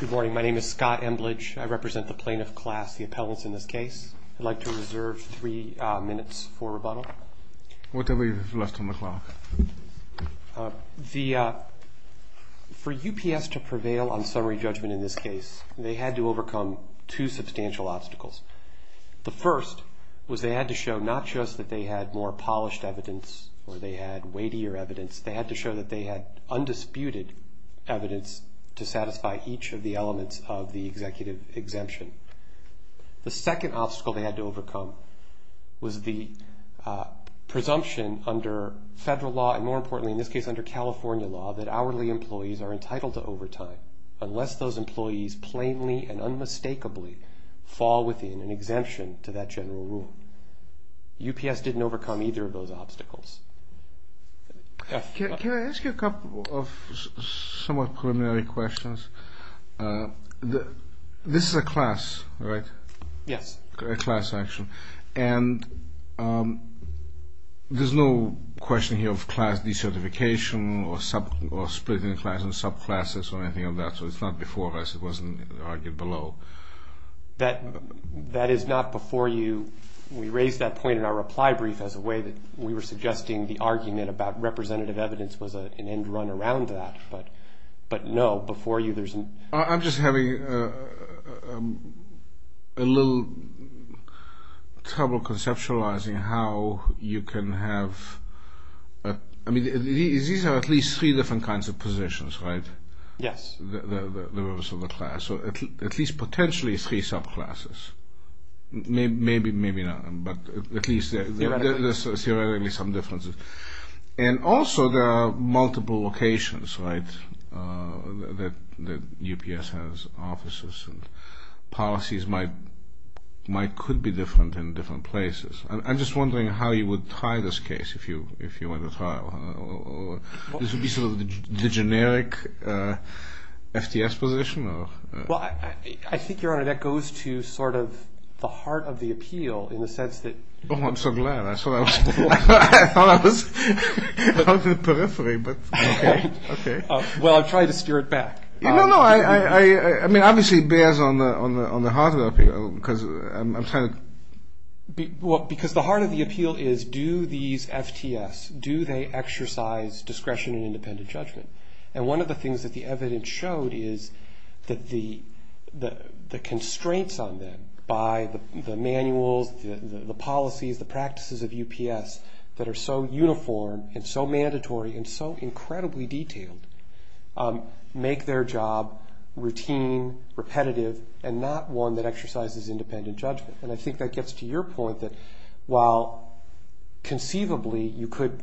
Good morning, my name is Scott Embledge. I represent the plaintiff class, the appellants in this case. I'd like to reserve three minutes for rebuttal. What do we have left on the clock? For UPS to prevail on summary judgment in this case, they had to overcome two substantial obstacles. The first was they had to show not just that they had more polished evidence or they had weightier evidence, they had to show that they had undisputed evidence to satisfy each of the elements of the executive exemption. The second obstacle they had to overcome was the presumption under federal law, and more importantly in this case under California law, that hourly employees are entitled to overtime unless those employees plainly and unmistakably fall within an exemption to that general rule. UPS didn't overcome either of those obstacles. Can I ask you a couple of somewhat preliminary questions? This is a class, right? Yes. A class, actually. And there's no question here of class decertification or splitting class into subclasses or anything like that, so it's not before us, it wasn't argued below. That is not before you. We raised that point in our reply brief as a way that we were suggesting the argument about representative evidence was an end run around that, but no, before you there's an... I'm just having a little trouble conceptualizing how you can have... I mean, these are at least three different kinds of positions, right? Yes. The rest of the class, so at least potentially three subclasses. Maybe not, but at least there's theoretically some differences. And also there are multiple locations, right, that UPS has offices, and policies might could be different in different places. I'm just wondering how you would try this case if you went to trial. This would be sort of the generic FTS position? Well, I think, Your Honor, that goes to sort of the heart of the appeal in the sense that... Oh, I'm so glad. I thought I was out of the periphery, but okay. Well, I'm trying to steer it back. No, no. I mean, obviously it bears on the heart of the appeal because I'm trying to... Well, because the heart of the appeal is do these FTS, do they exercise discretion and independent judgment? And one of the things that the evidence showed is that the constraints on them by the manuals, the policies, the practices of UPS that are so uniform and so mandatory and so incredibly detailed make their job routine, repetitive, and not one that exercises independent judgment. And I think that gets to your point that while conceivably you could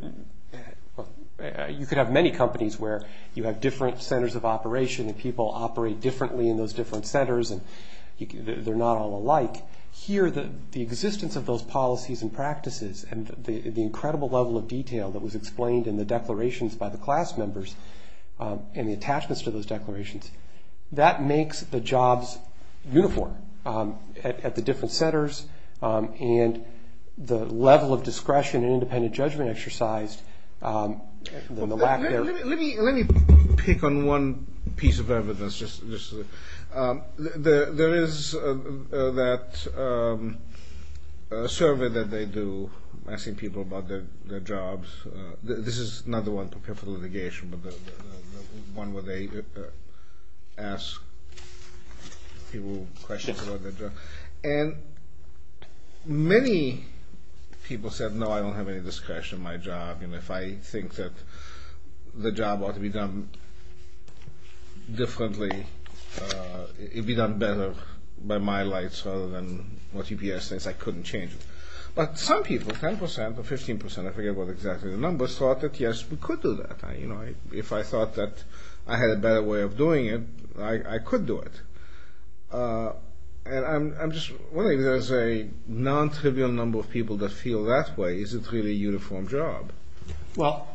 have many companies where you have different centers of operation and people operate differently in those different centers and they're not all alike, here the existence of those policies and practices and the incredible level of detail that was explained in the declarations by the class members and the attachments to those declarations, that makes the jobs uniform at the different centers and the level of discretion and independent judgment exercised. Let me pick on one piece of evidence. There is that survey that they do asking people about their jobs. This is not the one prepared for litigation, but the one where they ask people questions about their job. And many people said, no, I don't have any discretion in my job, and if I think that the job ought to be done differently, it would be done better by my lights rather than what UPS says, I couldn't change it. But some people, 10% or 15%, I forget what exactly the numbers, thought that, yes, we could do that. If I thought that I had a better way of doing it, I could do it. And I'm just wondering if there's a nontrivial number of people that feel that way. Is it really a uniform job? Well,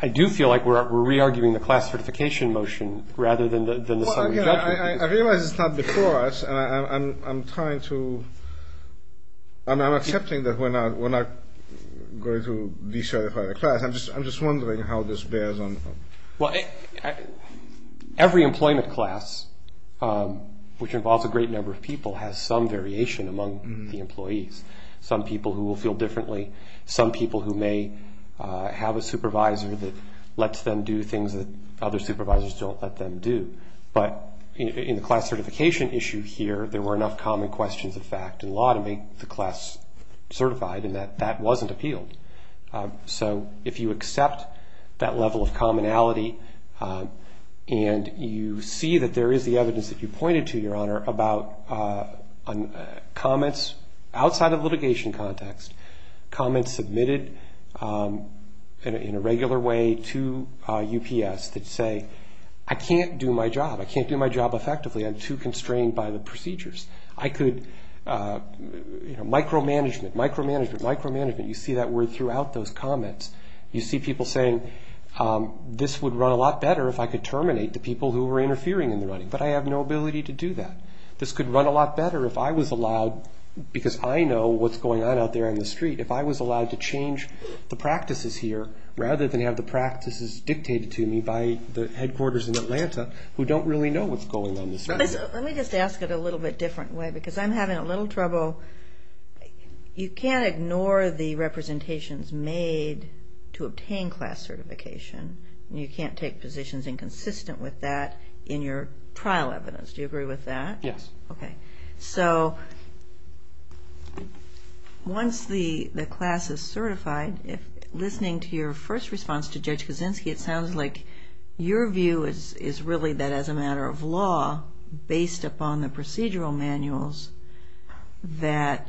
I do feel like we're re-arguing the class certification motion rather than the summary judgment. I realize it's not before us, and I'm trying to, I'm accepting that we're not going to de-certify the class. I'm just wondering how this bears on. Well, every employment class, which involves a great number of people, has some variation among the employees. Some people who will feel differently. Some people who may have a supervisor that lets them do things that other supervisors don't let them do. But in the class certification issue here, there were enough common questions of fact and law to make the class certified, and that wasn't appealed. So if you accept that level of commonality, and you see that there is the evidence that you pointed to, Your Honor, about comments outside of litigation context, comments submitted in a regular way to UPS that say, I can't do my job, I can't do my job effectively, I'm too constrained by the procedures. I could, you know, micromanagement, micromanagement, micromanagement, you see that word throughout those comments. You see people saying, this would run a lot better if I could terminate the people who were interfering in the running, but I have no ability to do that. This could run a lot better if I was allowed, because I know what's going on out there on the street, if I was allowed to change the practices here, rather than have the practices dictated to me by the headquarters in Atlanta, who don't really know what's going on the street. Let me just ask it a little bit different way, because I'm having a little trouble. You can't ignore the representations made to obtain class certification, and you can't take positions inconsistent with that in your trial evidence. Do you agree with that? Yes. Okay. So, once the class is certified, listening to your first response to Judge Kaczynski, it sounds like your view is really that as a matter of law, based upon the procedural manuals, that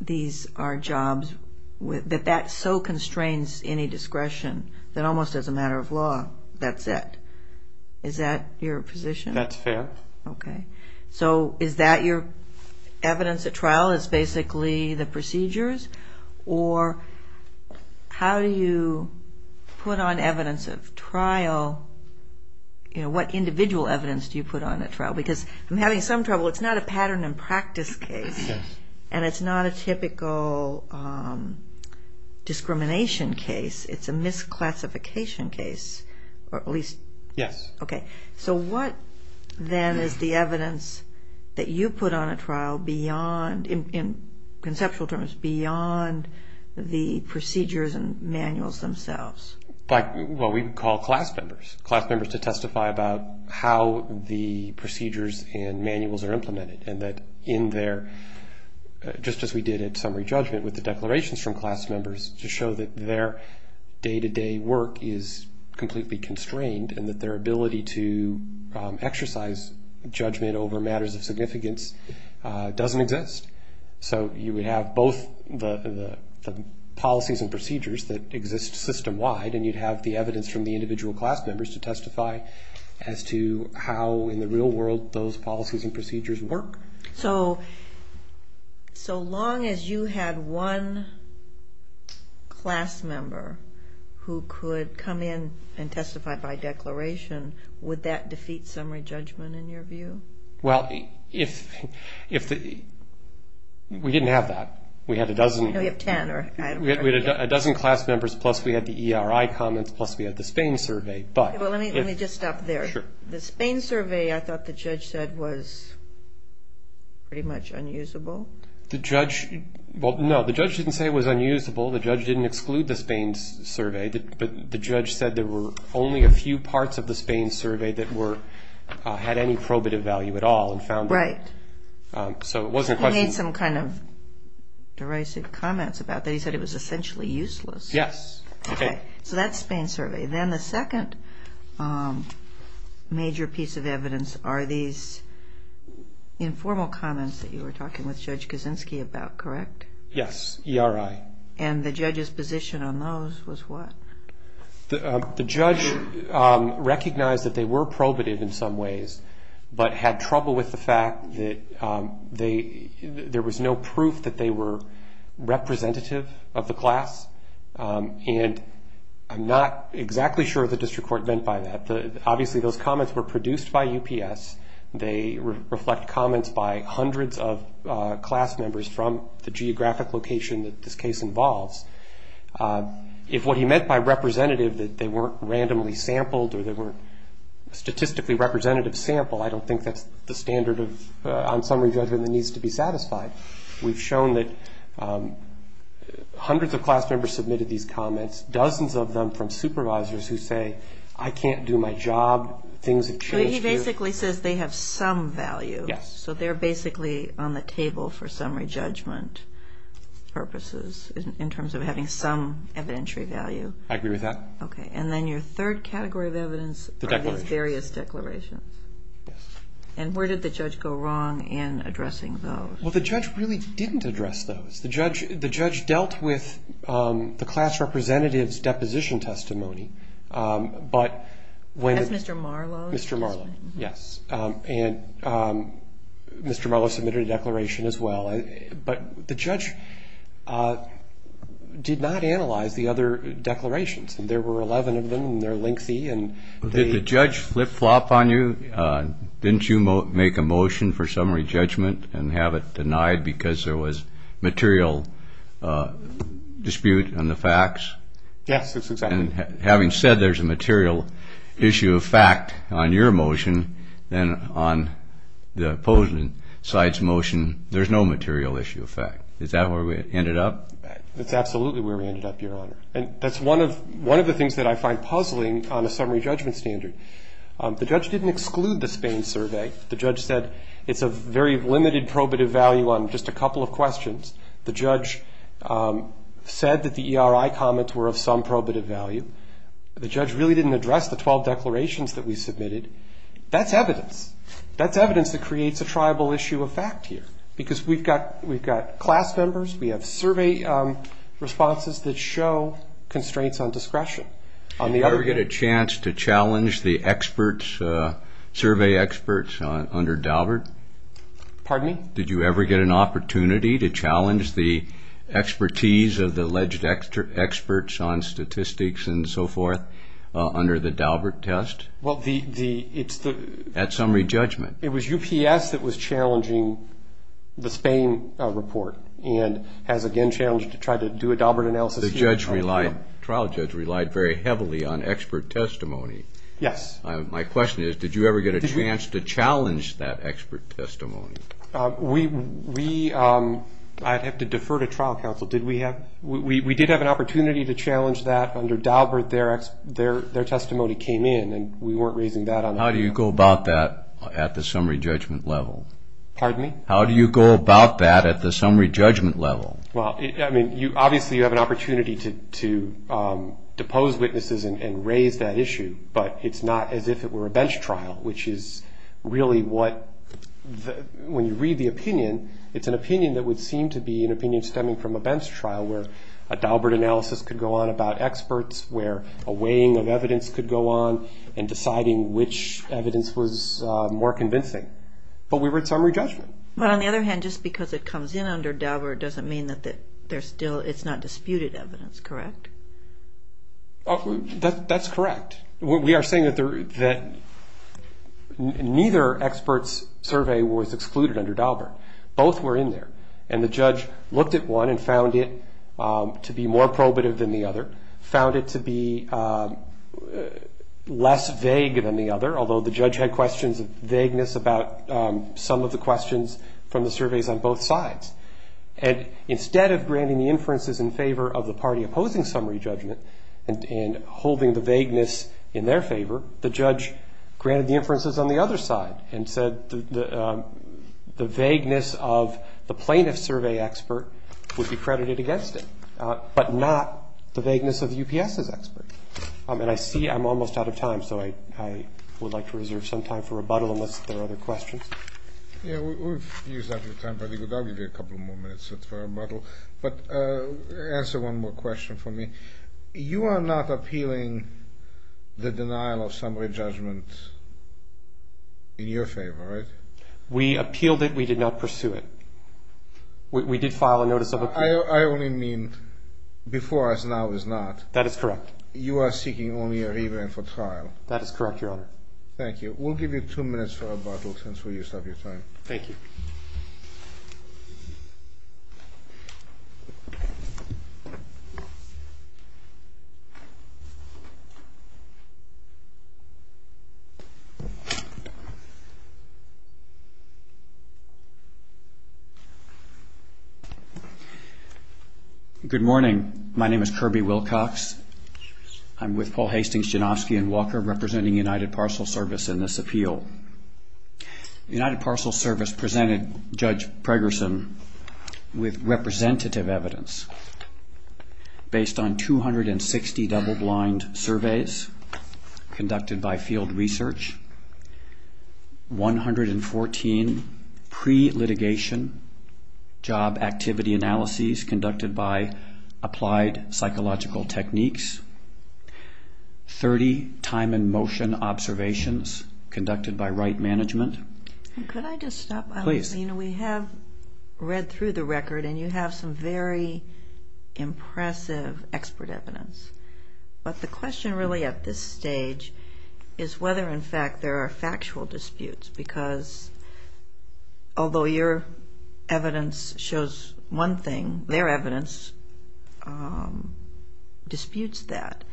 these are jobs, that that so constrains any discretion, that almost as a matter of law, that's it. Is that your position? That's fair. Okay. So, is that your evidence at trial? It's basically the procedures? Or how do you put on evidence of trial? What individual evidence do you put on at trial? Because I'm having some trouble. It's not a pattern and practice case, and it's not a typical discrimination case. It's a misclassification case, or at least... Yes. Okay. So, what, then, is the evidence that you put on at trial beyond, in conceptual terms, beyond the procedures and manuals themselves? Well, we call class members, class members to testify about how the procedures and manuals are implemented, and that in their, just as we did at summary judgment with the declarations from class members, to show that their day-to-day work is completely constrained, and that their ability to exercise judgment over matters of significance doesn't exist. So you would have both the policies and procedures that exist system-wide, and you'd have the evidence from the individual class members to testify as to how, in the real world, those policies and procedures work. So, so long as you had one class member who could come in and testify by declaration, would that defeat summary judgment, in your view? Well, if the, we didn't have that. We had a dozen. No, we have ten. We had a dozen class members, plus we had the ERI comments, plus we had the Spain survey, but... Well, let me just stop there. Sure. The Spain survey, I thought the judge said, was pretty much unusable. The judge, well, no, the judge didn't say it was unusable. The judge didn't exclude the Spain survey, but the judge said there were only a few parts of the Spain survey that were, had any probative value at all and found that. Right. So it wasn't a question... He made some kind of derisive comments about that. He said it was essentially useless. Yes. Okay. So that's Spain survey. Then the second major piece of evidence are these informal comments that you were talking with Judge Kaczynski about, correct? Yes, ERI. And the judge's position on those was what? The judge recognized that they were probative in some ways, but had trouble with the fact that there was no proof that they were representative of the class. And I'm not exactly sure what the district court meant by that. Obviously, those comments were produced by UPS. They reflect comments by hundreds of class members from the geographic location that this case involves. If what he meant by representative, that they weren't randomly sampled or they weren't statistically representative sample, I don't think that's the standard of, on some review, I think that needs to be satisfied. We've shown that hundreds of class members submitted these comments, dozens of them from supervisors who say, I can't do my job, things have changed here. But he basically says they have some value. Yes. So they're basically on the table for summary judgment purposes in terms of having some evidentiary value. I agree with that. Okay. And then your third category of evidence are these various declarations. Yes. And where did the judge go wrong in addressing those? Well, the judge really didn't address those. The judge dealt with the class representative's deposition testimony. That's Mr. Marlowe? Mr. Marlowe, yes. And Mr. Marlowe submitted a declaration as well. But the judge did not analyze the other declarations. There were 11 of them, and they're lengthy. Did the judge flip-flop on you? Didn't you make a motion for summary judgment and have it denied because there was material dispute on the facts? Yes, that's exactly right. And having said there's a material issue of fact on your motion, then on the opposing side's motion there's no material issue of fact. Is that where we ended up? That's absolutely where we ended up, Your Honor. And that's one of the things that I find puzzling on a summary judgment standard. The judge didn't exclude the Spain survey. The judge said it's of very limited probative value on just a couple of questions. The judge said that the ERI comments were of some probative value. The judge really didn't address the 12 declarations that we submitted. That's evidence. That's evidence that creates a triable issue of fact here because we've got class members, we have survey responses that show constraints on discretion. Did you ever get a chance to challenge the survey experts under Daubert? Pardon me? Did you ever get an opportunity to challenge the expertise of the alleged experts on statistics and so forth under the Daubert test at summary judgment? It was UPS that was challenging the Spain report and has again challenged to try to do a Daubert analysis here. The trial judge relied very heavily on expert testimony. Yes. My question is, did you ever get a chance to challenge that expert testimony? We, I'd have to defer to trial counsel, did we have, we did have an opportunity to challenge that under Daubert. Their testimony came in and we weren't raising that. How do you go about that at the summary judgment level? Pardon me? How do you go about that at the summary judgment level? Well, I mean, obviously you have an opportunity to depose witnesses and raise that issue, but it's not as if it were a bench trial, which is really what, when you read the opinion, it's an opinion that would seem to be an opinion stemming from a bench trial where a Daubert analysis could go on about experts, where a weighing of evidence could go on in deciding which evidence was more convincing. But we were at summary judgment. But on the other hand, just because it comes in under Daubert doesn't mean that there's still, it's not disputed evidence, correct? That's correct. We are saying that neither expert's survey was excluded under Daubert. Both were in there. And the judge looked at one and found it to be more probative than the other, found it to be less vague than the other, although the judge had questions of vagueness about some of the questions from the surveys on both sides. And instead of granting the inferences in favor of the party opposing summary judgment and holding the vagueness in their favor, the judge granted the inferences on the other side and said the vagueness of the plaintiff's survey expert would be credited against it, but not the vagueness of UPS's expert. And I see I'm almost out of time, so I would like to reserve some time for rebuttal unless there are other questions. Yeah, we've used up your time. I think we'll give you a couple more minutes for rebuttal. But answer one more question for me. You are not appealing the denial of summary judgment in your favor, right? We appealed it. We did not pursue it. We did file a notice of appeal. I only mean before us, now is not. That is correct. You are seeking only a review and for trial. That is correct, Your Honor. Thank you. We'll give you two minutes for rebuttal since we used up your time. Thank you. Good morning. My name is Kirby Wilcox. I'm with Paul Hastings, Janofsky & Walker, representing United Parcel Service in this appeal. United Parcel Service presented Judge Pregerson with representative evidence based on 260 double-blind surveys conducted by field research, 114 pre-litigation job activity analyses conducted by applied psychological techniques, 30 time and motion observations conducted by right management. Could I just stop? Please. We have read through the record, and you have some very impressive expert evidence. But the question really at this stage is whether, in fact, there are factual disputes because although your evidence shows one thing, their evidence disputes that.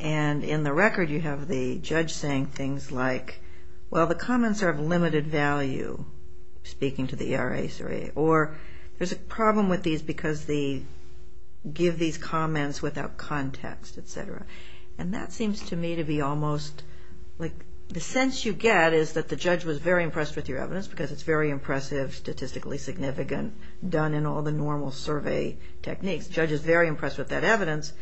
And in the record, you have the judge saying things like, well, the comments are of limited value, speaking to the ERA survey, or there's a problem with these because they give these comments without context, et cetera. And that seems to me to be almost like the sense you get is that the judge was very impressed with your evidence because it's very impressive, statistically significant, done in all the normal survey techniques. The judge is very impressed with that evidence,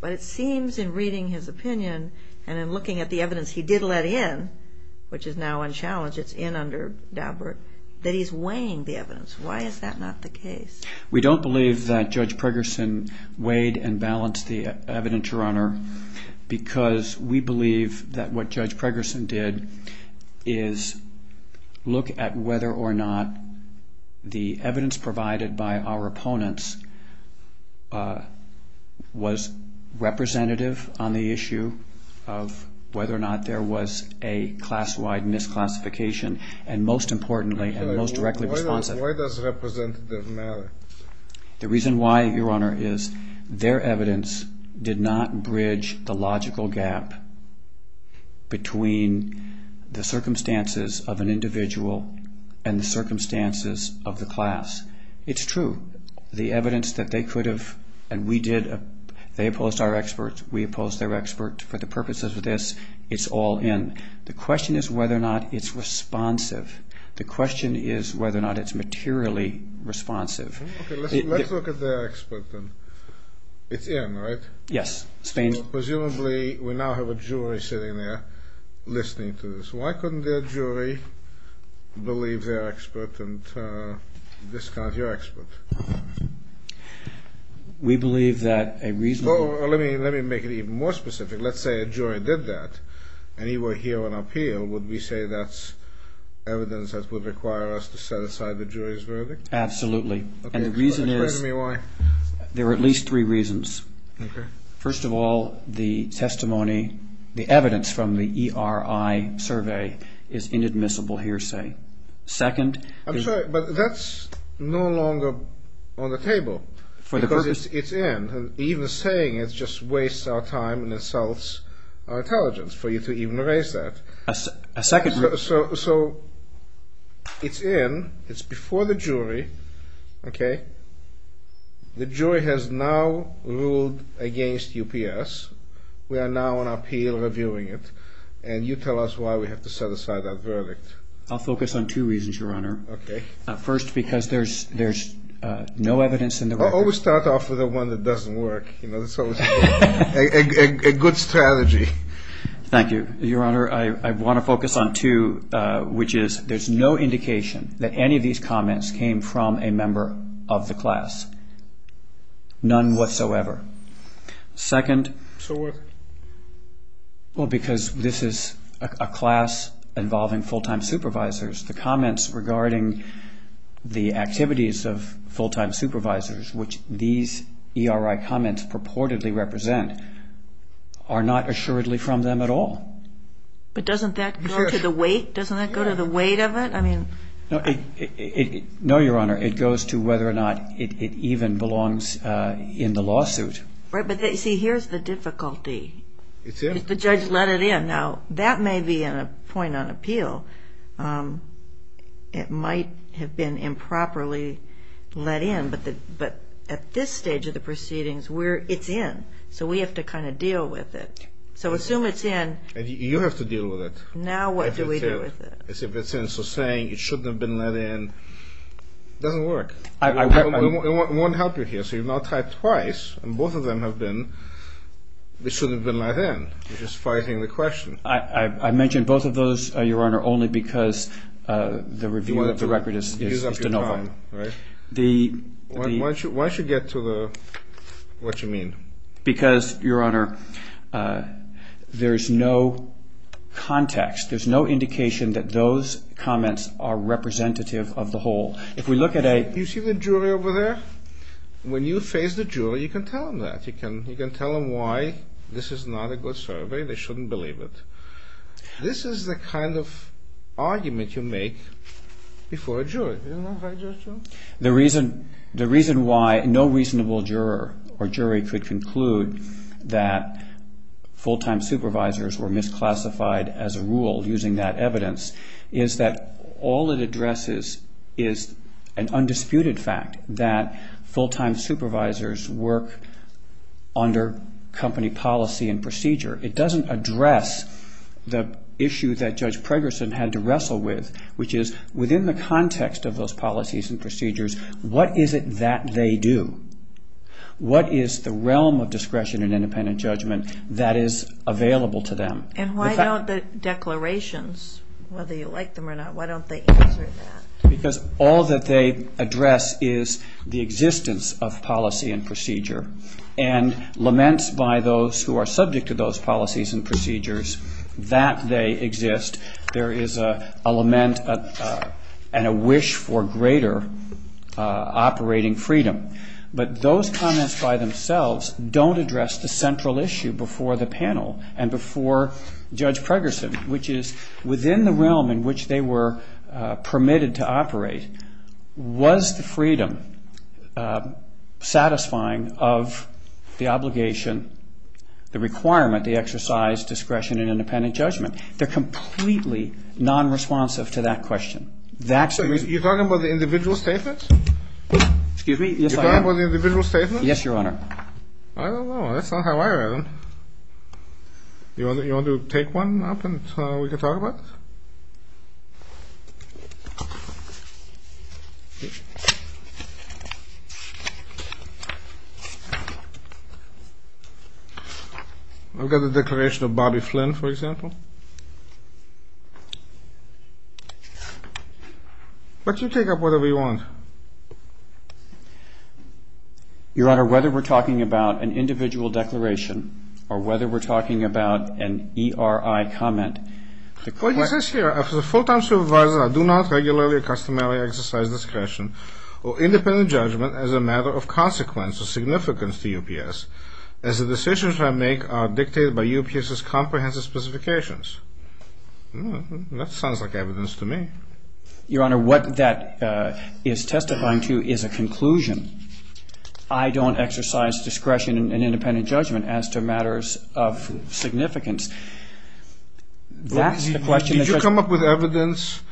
but it seems in reading his opinion and in looking at the evidence he did let in, which is now unchallenged, it's in under Daubert, that he's weighing the evidence. Why is that not the case? We don't believe that Judge Pregerson weighed and balanced the evidence, Your Honor, because we believe that what Judge Pregerson did is look at whether or not the evidence provided by our opponents was representative on the issue of whether or not there was a class-wide misclassification. And most importantly and most directly responsive. Why does representative matter? The reason why, Your Honor, is their evidence did not bridge the logical gap between the circumstances of an individual and the circumstances of the class. It's true. The evidence that they could have, and we did, they opposed our expert, we opposed their expert. For the purposes of this, it's all in. The question is whether or not it's responsive. The question is whether or not it's materially responsive. Let's look at their expert then. It's in, right? Yes. Presumably we now have a jury sitting there listening to this. Why couldn't their jury believe their expert and discount your expert? We believe that a reasonable... Let me make it even more specific. Let's say a jury did that and you were here on appeal. Would we say that's evidence that would require us to set aside the jury's verdict? Absolutely. And the reason is... Explain to me why. There are at least three reasons. First of all, the testimony, the evidence from the ERI survey is inadmissible hearsay. Second... I'm sorry, but that's no longer on the table. For the purpose... It's in. Even saying it just wastes our time and insults our intelligence for you to even raise that. A second... So it's in. It's before the jury. The jury has now ruled against UPS. We are now on appeal reviewing it. And you tell us why we have to set aside that verdict. I'll focus on two reasons, Your Honor. First, because there's no evidence in the record... I always start off with the one that doesn't work. A good strategy. Thank you, Your Honor. I want to focus on two, which is there's no indication that any of these comments came from a member of the class. None whatsoever. Second... So what? Well, because this is a class involving full-time supervisors, the comments regarding the activities of full-time supervisors, which these ERI comments purportedly represent, are not assuredly from them at all. But doesn't that go to the weight? Doesn't that go to the weight of it? No, Your Honor. It goes to whether or not it even belongs in the lawsuit. Right, but see, here's the difficulty. It's in. If the judge let it in. Now, that may be a point on appeal. It might have been improperly let in. But at this stage of the proceedings, it's in. So we have to kind of deal with it. So assume it's in. You have to deal with it. Now what do we do with it? As if it's in. So saying it shouldn't have been let in doesn't work. It won't help you here. So you've now typed twice, and both of them have been, it shouldn't have been let in. You're just fighting the question. I mentioned both of those, Your Honor, only because the review of the record is de novo. Why don't you get to what you mean? Because, Your Honor, there's no context, there's no indication that those comments are representative of the whole. If we look at a You see the jury over there? When you face the jury, you can tell them that. You can tell them why this is not a good survey. They shouldn't believe it. This is the kind of argument you make before a jury. The reason why no reasonable juror or jury could conclude that full-time supervisors were misclassified as a rule using that evidence is that all it addresses is an undisputed fact that full-time supervisors work under company policy and procedure. It doesn't address the issue that Judge Pregerson had to wrestle with, which is within the context of those policies and procedures, what is it that they do? What is the realm of discretion and independent judgment that is available to them? And why don't the declarations, whether you like them or not, why don't they answer that? Because all that they address is the existence of policy and procedure, and laments by those who are subject to those policies and procedures that they exist. There is a lament and a wish for greater operating freedom. But those comments by themselves don't address the central issue before the panel and before Judge Pregerson, which is within the realm in which they were permitted to operate, was the freedom satisfying of the obligation, the requirement, the exercise, discretion, and independent judgment? They're completely nonresponsive to that question. You're talking about the individual statements? Excuse me? Yes, Your Honor. You're talking about the individual statements? Yes, Your Honor. I don't know. That's not how I read them. You want to take one up and we can talk about it? I've got the declaration of Bobby Flynn, for example. But you take up whatever you want. Your Honor, whether we're talking about an individual declaration or whether we're talking about an ERI comment, the question is... I do not regularly or customarily exercise discretion or independent judgment as a matter of consequence or significance to UPS, as the decisions I make are dictated by UPS's comprehensive specifications. That sounds like evidence to me. Your Honor, what that is testifying to is a conclusion. I don't exercise discretion in independent judgment as to matters of significance. Did you come up with evidence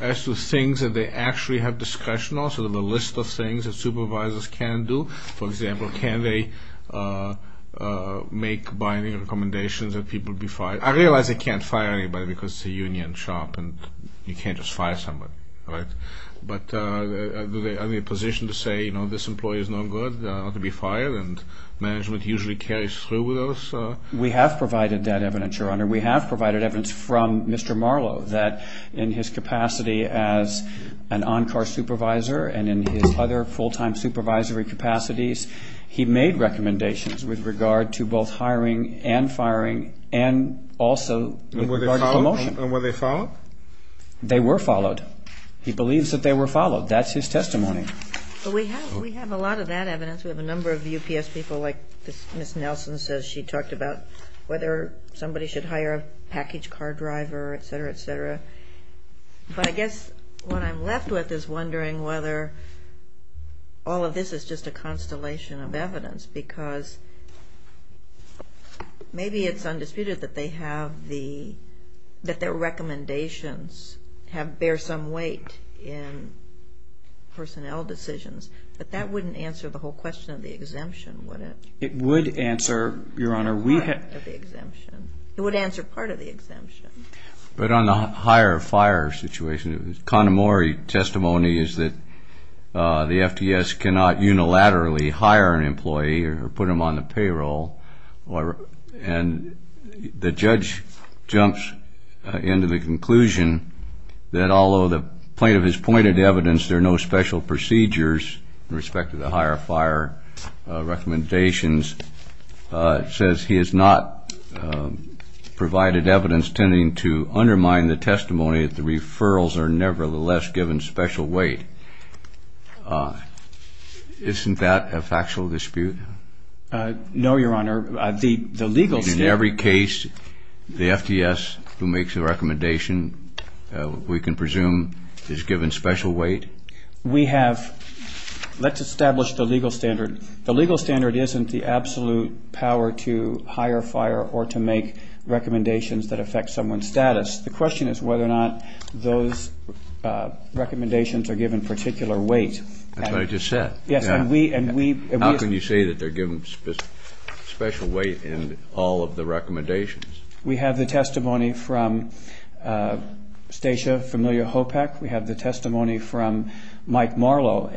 as to things that they actually have discretion on, sort of a list of things that supervisors can do? For example, can they make binding recommendations that people be fired? I realize they can't fire anybody because it's a union shop and you can't just fire somebody, right? But are they in a position to say, you know, this employee is no good, not to be fired? And management usually carries through with those? We have provided that evidence, Your Honor. We have provided evidence from Mr. Marlowe that in his capacity as an on-car supervisor and in his other full-time supervisory capacities, he made recommendations with regard to both hiring and firing and also with regard to promotion. And were they followed? They were followed. He believes that they were followed. That's his testimony. But we have a lot of that evidence. We have a number of UPS people, like Ms. Nelson says she talked about, whether somebody should hire a package car driver, et cetera, et cetera. But I guess what I'm left with is wondering whether all of this is just a constellation of evidence because maybe it's undisputed that their recommendations bear some weight in personnel decisions, but that wouldn't answer the whole question of the exemption, would it? It would answer, Your Honor. Part of the exemption. It would answer part of the exemption. But on the hire-fire situation, Connemore's testimony is that the FTS cannot unilaterally hire an employee or put them on the payroll, and the judge jumps into the conclusion that although the plaintiff has pointed to evidence, there are no special procedures in respect to the hire-fire recommendations, says he has not provided evidence tending to undermine the testimony that the referrals are nevertheless given special weight. Isn't that a factual dispute? No, Your Honor. In every case, the FTS who makes the recommendation, we can presume, is given special weight? Let's establish the legal standard. The legal standard isn't the absolute power to hire-fire or to make recommendations that affect someone's status. The question is whether or not those recommendations are given particular weight. That's what I just said. How can you say that they're given special weight in all of the recommendations? We have the testimony from Stacia Familio-Hopek. We have the testimony from Mike Marlowe.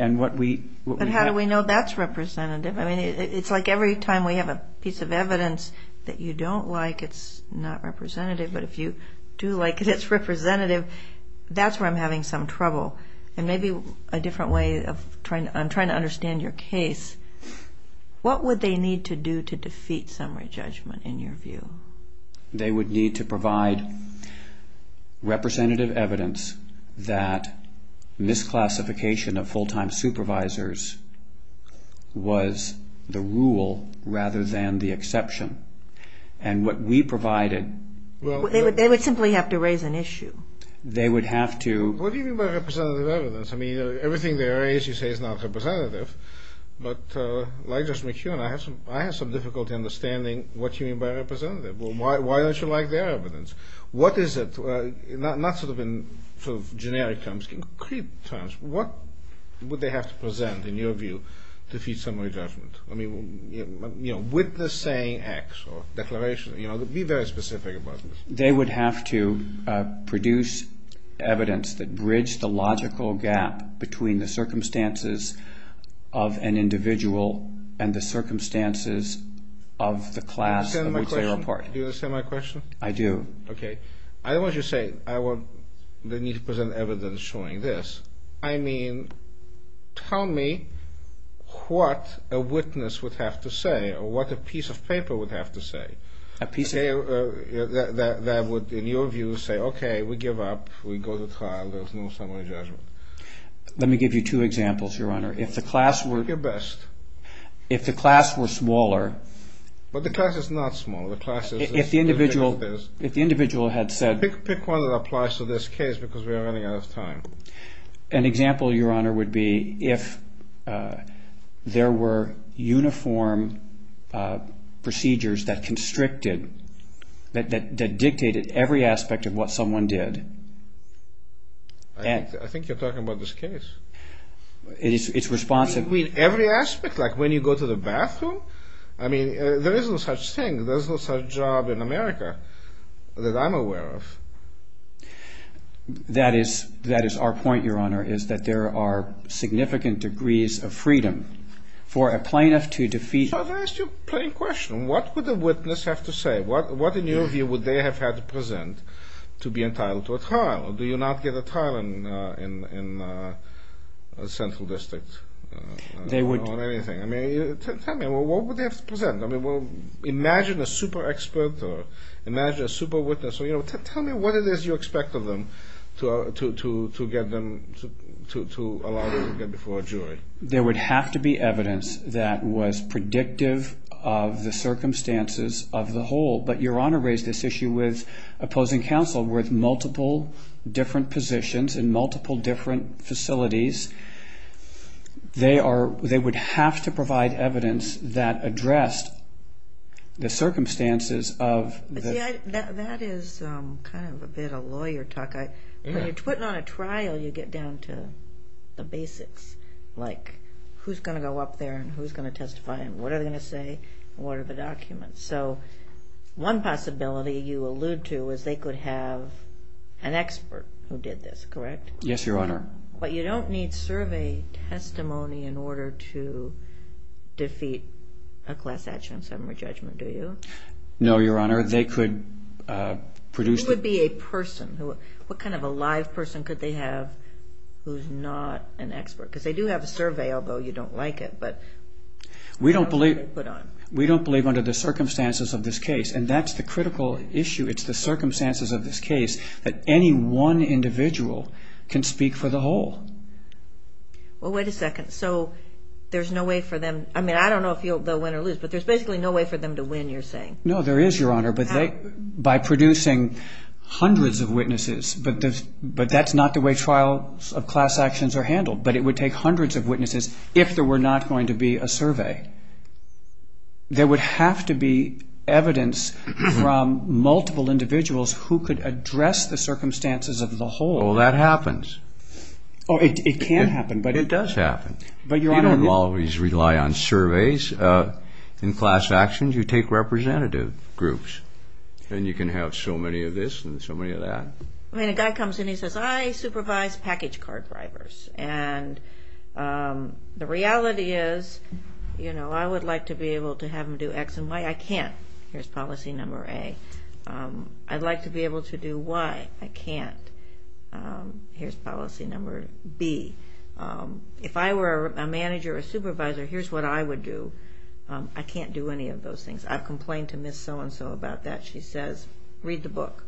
But how do we know that's representative? It's like every time we have a piece of evidence that you don't like, it's not representative. But if you do like it, it's representative. That's where I'm having some trouble. And maybe a different way of trying to understand your case, what would they need to do to defeat summary judgment in your view? They would need to provide representative evidence that misclassification of full-time supervisors was the rule rather than the exception. And what we provided... They would simply have to raise an issue. They would have to... What do you mean by representative evidence? I mean, everything they raise you say is not representative. But like Judge McKeown, I have some difficulty understanding what you mean by representative. Why don't you like their evidence? What is it? Not sort of in generic terms, concrete terms. What would they have to present, in your view, to defeat summary judgment? I mean, with the saying X or declaration. Be very specific about this. They would have to produce evidence that bridged the logical gap between the circumstances of an individual and the circumstances of the class of which they were part. Do you understand my question? I do. Okay. I don't want you to say they need to present evidence showing this. I mean, tell me what a witness would have to say or what a piece of paper would have to say. That would, in your view, say, okay, we give up, we go to trial, there's no summary judgment. Let me give you two examples, Your Honor. If the class were... Do your best. If the class were smaller... But the class is not small. If the individual had said... Pick one that applies to this case because we are running out of time. An example, Your Honor, would be if there were uniform procedures that constricted, that dictated every aspect of what someone did. I think you're talking about this case. It's responsive. You mean every aspect? Like when you go to the bathroom? I mean, there is no such thing. There's no such job in America that I'm aware of. That is our point, Your Honor, is that there are significant degrees of freedom for a plaintiff to defeat... So I've asked you a plain question. What would a witness have to say? What, in your view, would they have had to present to be entitled to a trial? Do you not get a trial in a central district? They would... On anything. I mean, tell me, what would they have to present? I mean, imagine a super expert or imagine a super witness. So, you know, tell me what it is you expect of them to allow them to get before a jury. There would have to be evidence that was predictive of the circumstances of the whole. But Your Honor raised this issue with opposing counsel with multiple different positions in multiple different facilities. They would have to provide evidence that addressed the circumstances of... See, that is kind of a bit of lawyer talk. When you're putting on a trial, you get down to the basics, like who's going to go up there and who's going to testify and what are they going to say and what are the documents. So one possibility you allude to is they could have an expert who did this, correct? Yes, Your Honor. But you don't need survey testimony in order to defeat a class action summary judgment, do you? No, Your Honor. They could produce... It would be a person. What kind of a live person could they have who's not an expert? Because they do have a survey, although you don't like it, but... We don't believe under the circumstances of this case, and that's the critical issue. It's the circumstances of this case that any one individual can speak for the whole. Well, wait a second. So there's no way for them... I mean, I don't know if they'll win or lose, but there's basically no way for them to win, you're saying? No, there is, Your Honor, but by producing hundreds of witnesses, but that's not the way trials of class actions are handled, but it would take hundreds of witnesses if there were not going to be a survey. There would have to be evidence from multiple individuals who could address the circumstances of the whole. Well, that happens. It can happen, but it does happen. You don't always rely on surveys in class actions. You take representative groups, and you can have so many of this and so many of that. I mean, a guy comes in and he says, I supervise package card drivers, and the reality is I would like to be able to have them do X and Y. I can't. Here's policy number A. I'd like to be able to do Y. I can't. Here's policy number B. If I were a manager or a supervisor, here's what I would do. I can't do any of those things. I've complained to Ms. So-and-so about that. She says, read the book.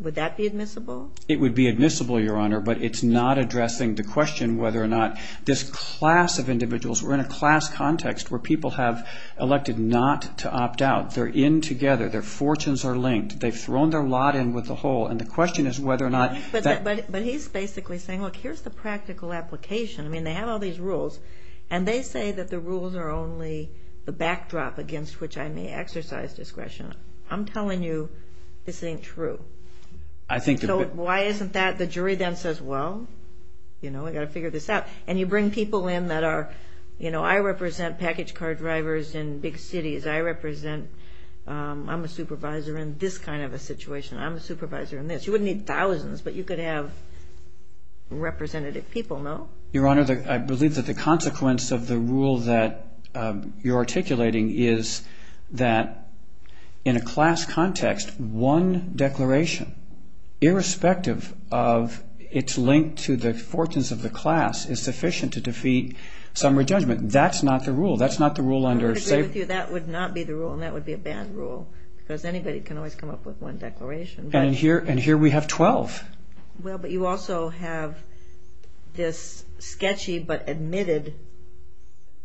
Would that be admissible? It would be admissible, Your Honor, but it's not addressing the question whether or not this class of individuals, we're in a class context where people have elected not to opt out. They're in together. Their fortunes are linked. They've thrown their lot in with the whole, and the question is whether or not that. But he's basically saying, look, here's the practical application. I mean, they have all these rules, and they say that the rules are only the backdrop against which I may exercise discretion. I'm telling you this ain't true. So why isn't that? The jury then says, well, you know, we've got to figure this out. And you bring people in that are, you know, I represent package car drivers in big cities. I represent, I'm a supervisor in this kind of a situation. I'm a supervisor in this. You wouldn't need thousands, but you could have representative people, no? Your Honor, I believe that the consequence of the rule that you're articulating is that in a class context, one declaration, irrespective of its link to the fortunes of the class, is sufficient to defeat summary judgment. That's not the rule. That's not the rule under a state. I agree with you. That would not be the rule, and that would be a bad rule because anybody can always come up with one declaration. And here we have 12. Well, but you also have this sketchy but admitted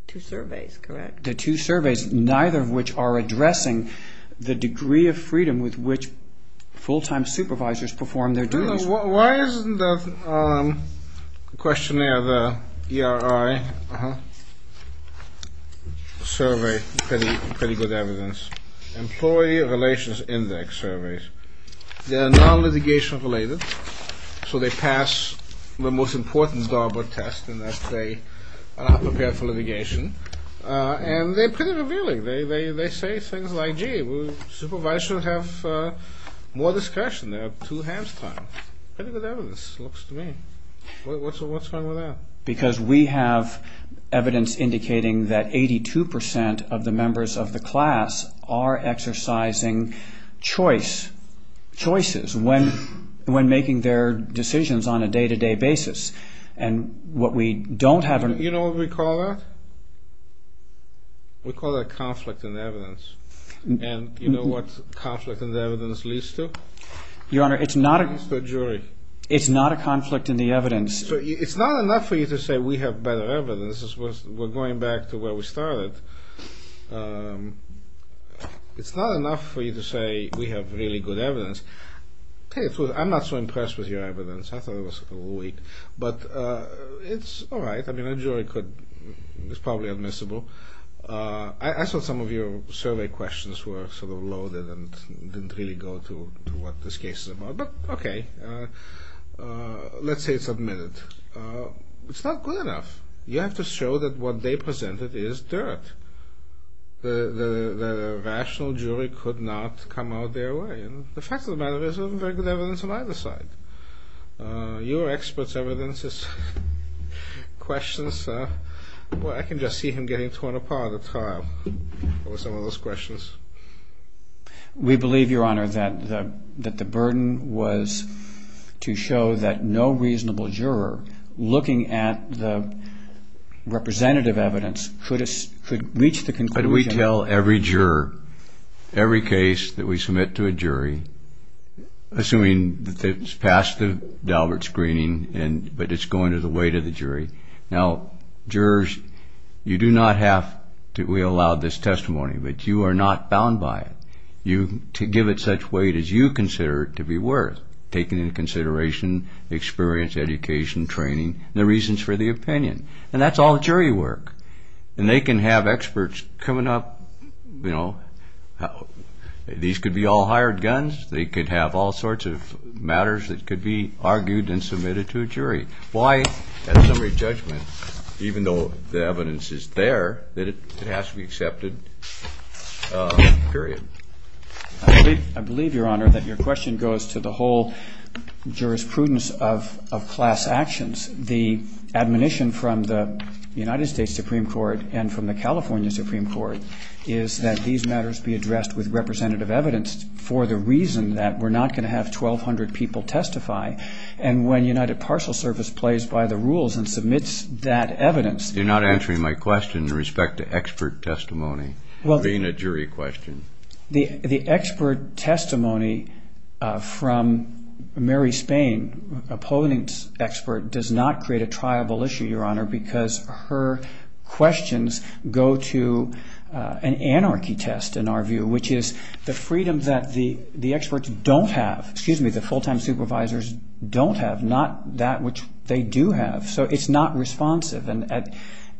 two surveys, correct? The two surveys, neither of which are addressing the degree of freedom with which full-time supervisors perform their duties. Why isn't the questionnaire, the ERI survey pretty good evidence? Employee Relations Index Surveys. They're non-litigation related, so they pass the most important DARPA test in that they prepare for litigation. And they're pretty revealing. They say things like, gee, supervisors should have more discretion. They have two hands time. Pretty good evidence, it looks to me. What's wrong with that? Because we have evidence indicating that 82% of the members of the class are exercising choice, choices when making their decisions on a day-to-day basis. And what we don't have... You know what we call that? We call that conflict in evidence. And you know what conflict in evidence leads to? Your Honor, it's not a... It leads to a jury. It's not a conflict in the evidence. It's not enough for you to say we have better evidence. We're going back to where we started. It's not enough for you to say we have really good evidence. I'm not so impressed with your evidence. I thought it was a little weak. But it's all right. I mean, a jury could... It's probably admissible. I thought some of your survey questions were sort of loaded and didn't really go to what this case is about. But, okay. Let's say it's admitted. It's not good enough. You have to show that what they presented is dirt. The rational jury could not come out their way. And the fact of the matter is there isn't very good evidence on either side. Your expert's evidence is questions. Well, I can just see him getting torn apart at the top with some of those questions. We believe, Your Honor, that the burden was to show that no reasonable juror, looking at the representative evidence, could reach the conclusion... How do we tell every juror, every case that we submit to a jury, assuming that it's passed the Daubert screening but it's going to the weight of the jury? Now, jurors, you do not have to allow this testimony. But you are not bound by it. To give it such weight as you consider it to be worth, taking into consideration experience, education, training, and the reasons for the opinion. And that's all jury work. And they can have experts coming up. These could be all hired guns. They could have all sorts of matters that could be argued and submitted to a jury. Why, at summary judgment, even though the evidence is there, that it has to be accepted? Period. I believe, Your Honor, that your question goes to the whole jurisprudence of class actions. The admonition from the United States Supreme Court and from the California Supreme Court is that these matters be addressed with representative evidence for the reason that we're not going to have 1,200 people testify. And when United Parcel Service plays by the rules and submits that evidence... You're not answering my question in respect to expert testimony, being a jury question. The expert testimony from Mary Spain, opponent expert, does not create a triable issue, Your Honor, because her questions go to an anarchy test, in our view, which is the freedom that the experts don't have, excuse me, the full-time supervisors don't have, not that which they do have. So it's not responsive. And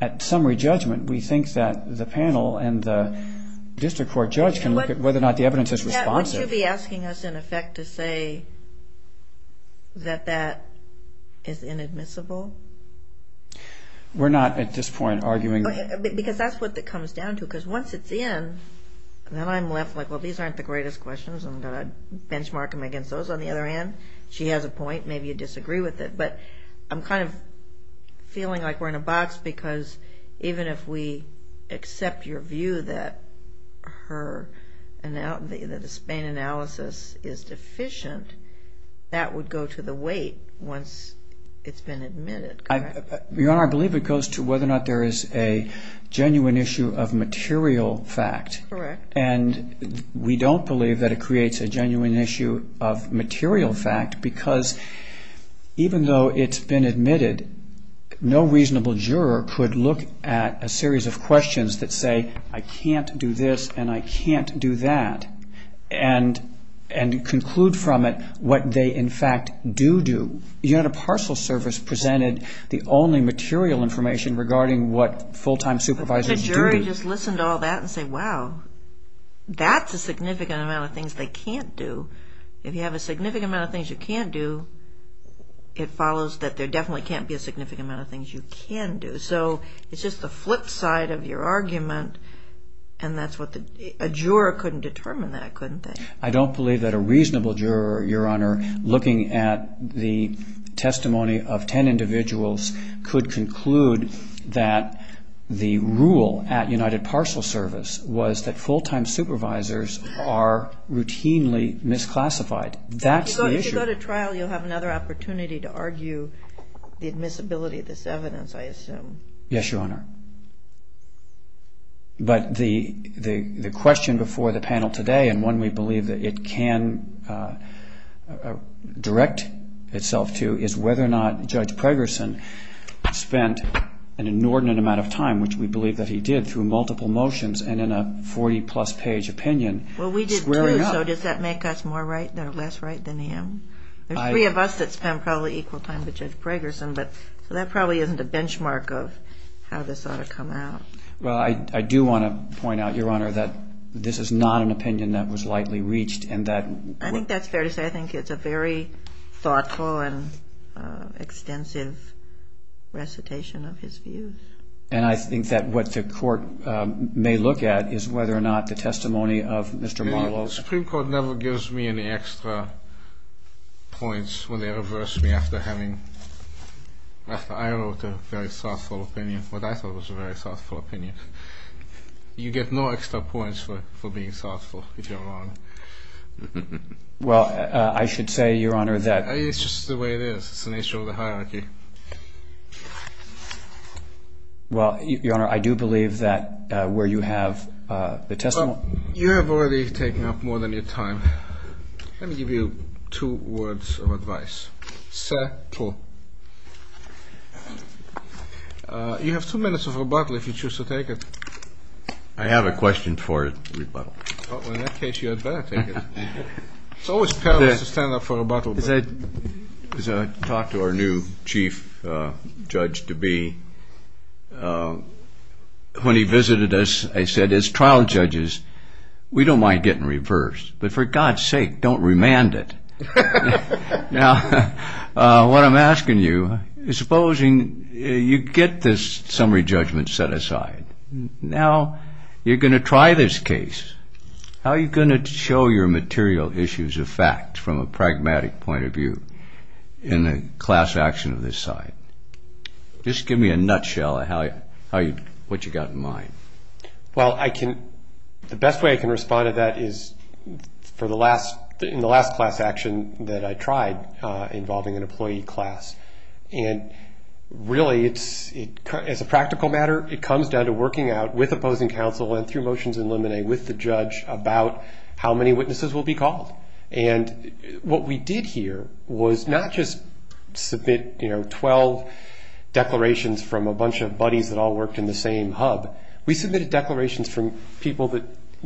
at summary judgment, we think that the panel and the district court judge can look at whether or not the evidence is responsive. Would you be asking us, in effect, to say that that is inadmissible? We're not at this point arguing that. Because that's what it comes down to, because once it's in, then I'm left like, well, these aren't the greatest questions, I'm going to benchmark them against those. On the other hand, she has a point, maybe you disagree with it, but I'm kind of feeling like we're in a box because even if we accept your view that the Spain analysis is deficient, that would go to the weight once it's been admitted, correct? Your Honor, I believe it goes to whether or not there is a genuine issue of material fact. Correct. And we don't believe that it creates a genuine issue of material fact because even though it's been admitted, no reasonable juror could look at a series of questions that say, I can't do this and I can't do that, and conclude from it what they, in fact, do do. You had a parcel service presented the only material information regarding what full-time supervisors do do. But the jury just listened to all that and said, wow, that's a significant amount of things they can't do. If you have a significant amount of things you can't do, it follows that there definitely can't be a significant amount of things you can do. So it's just the flip side of your argument, and a juror couldn't determine that, couldn't they? I don't believe that a reasonable juror, Your Honor, looking at the testimony of ten individuals, could conclude that the rule at United Parcel Service was that full-time supervisors are routinely misclassified. That's the issue. If you go to trial, you'll have another opportunity to argue the admissibility of this evidence, I assume. Yes, Your Honor. But the question before the panel today, and one we believe that it can direct itself to, is whether or not Judge Pregerson spent an inordinate amount of time, which we believe that he did, through multiple motions and in a 40-plus page opinion squaring up. Well, we did too. So does that make us less right than him? There's three of us that spent probably equal time with Judge Pregerson, so that probably isn't a benchmark of how this ought to come out. Well, I do want to point out, Your Honor, that this is not an opinion that was lightly reached. I think that's fair to say. I think it's a very thoughtful and extensive recitation of his views. And I think that what the Court may look at is whether or not the testimony of Mr. Marlowe. The Supreme Court never gives me any extra points when they reverse me after I wrote a very thoughtful opinion, what I thought was a very thoughtful opinion. You get no extra points for being thoughtful, if you're wrong. Well, I should say, Your Honor, that... It's just the way it is. It's an issue of the hierarchy. Well, Your Honor, I do believe that where you have the testimony... Well, you have already taken up more than your time. Let me give you two words of advice. You have two minutes of rebuttal if you choose to take it. I have a question for rebuttal. Well, in that case, you had better take it. It's always perilous to stand up for rebuttal. As I talked to our new chief judge-to-be, when he visited us, I said, as trial judges, we don't mind getting reversed, but for God's sake, don't remand it. Now, what I'm asking you is, supposing you get this summary judgment set aside. Now, you're going to try this case. How are you going to show your material issues of fact, from a pragmatic point of view, in a class action of this size? Just give me a nutshell of what you've got in mind. Well, I can... The best way I can respond to that is in the last class action that I tried, involving an employee class. And really, as a practical matter, it comes down to working out, with opposing counsel, and through motions in limine, with the judge, about how many witnesses will be called. And what we did here was not just submit 12 declarations from a bunch of buddies that all worked in the same hub. We submitted declarations from people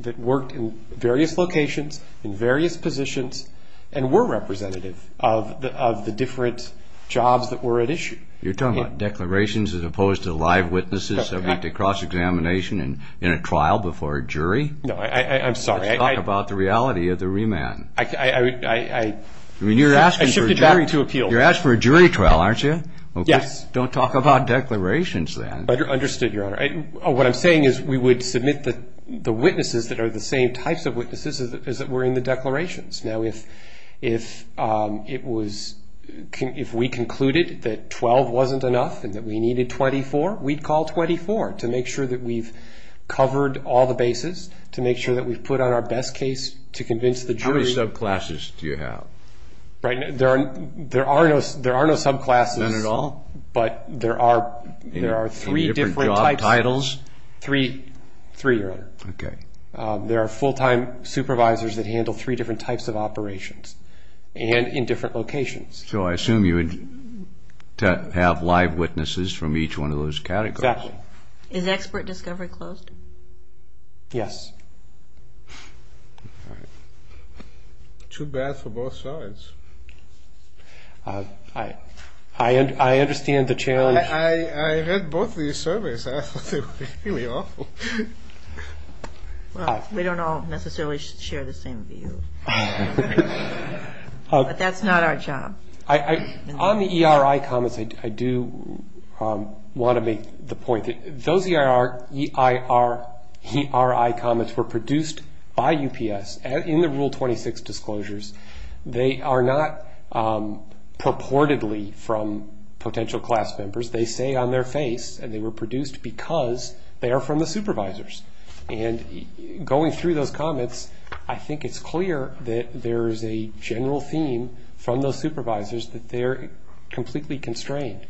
that worked in various locations, in various positions, and were representative of the different jobs that were at issue. You're talking about declarations as opposed to live witnesses that went to cross-examination in a trial before a jury? No, I'm sorry. You're talking about the reality of the remand. I shifted back to appeal. You're asking for a jury trial, aren't you? Yes. Don't talk about declarations then. Understood, Your Honor. What I'm saying is, we would submit the witnesses that are the same types of witnesses as were in the declarations. Now, if we concluded that 12 wasn't enough and that we needed 24, we'd call 24 to make sure that we've covered all the bases, to make sure that we've put on our best case to convince the jury. How many subclasses do you have? There are no subclasses. None at all? But there are three different types. In different job titles? Three, Your Honor. Okay. There are full-time supervisors that handle three different types of operations and in different locations. So I assume you would have live witnesses from each one of those categories. Exactly. Is expert discovery closed? Yes. All right. Too bad for both sides. I understand the challenge. I read both these surveys and I thought they were really awful. Well, we don't all necessarily share the same view. But that's not our job. On the ERI comments, I do want to make the point that those ERI comments were produced by UPS in the Rule 26 disclosures. They are not purportedly from potential class members. They say on their face, and they were produced because they are from the supervisors. And going through those comments, I think it's clear that there is a general theme from those supervisors that they're completely constrained.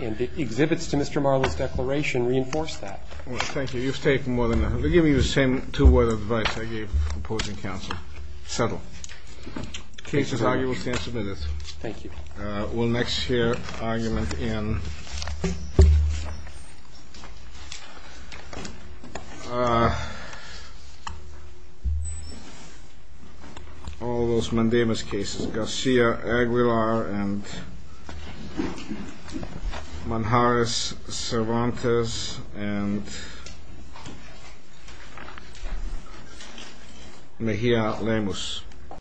And the exhibits to Mr. Marlow's declaration reinforce that. Thank you. You've taken more than enough. I'm giving you the same two-word advice I gave opposing counsel. Settle. Case is argued. We'll stand submitted. Thank you. We'll next hear argument in all those mandamus cases, Garcia-Aguilar and Manjaris Cervantes and Mejia Lemus.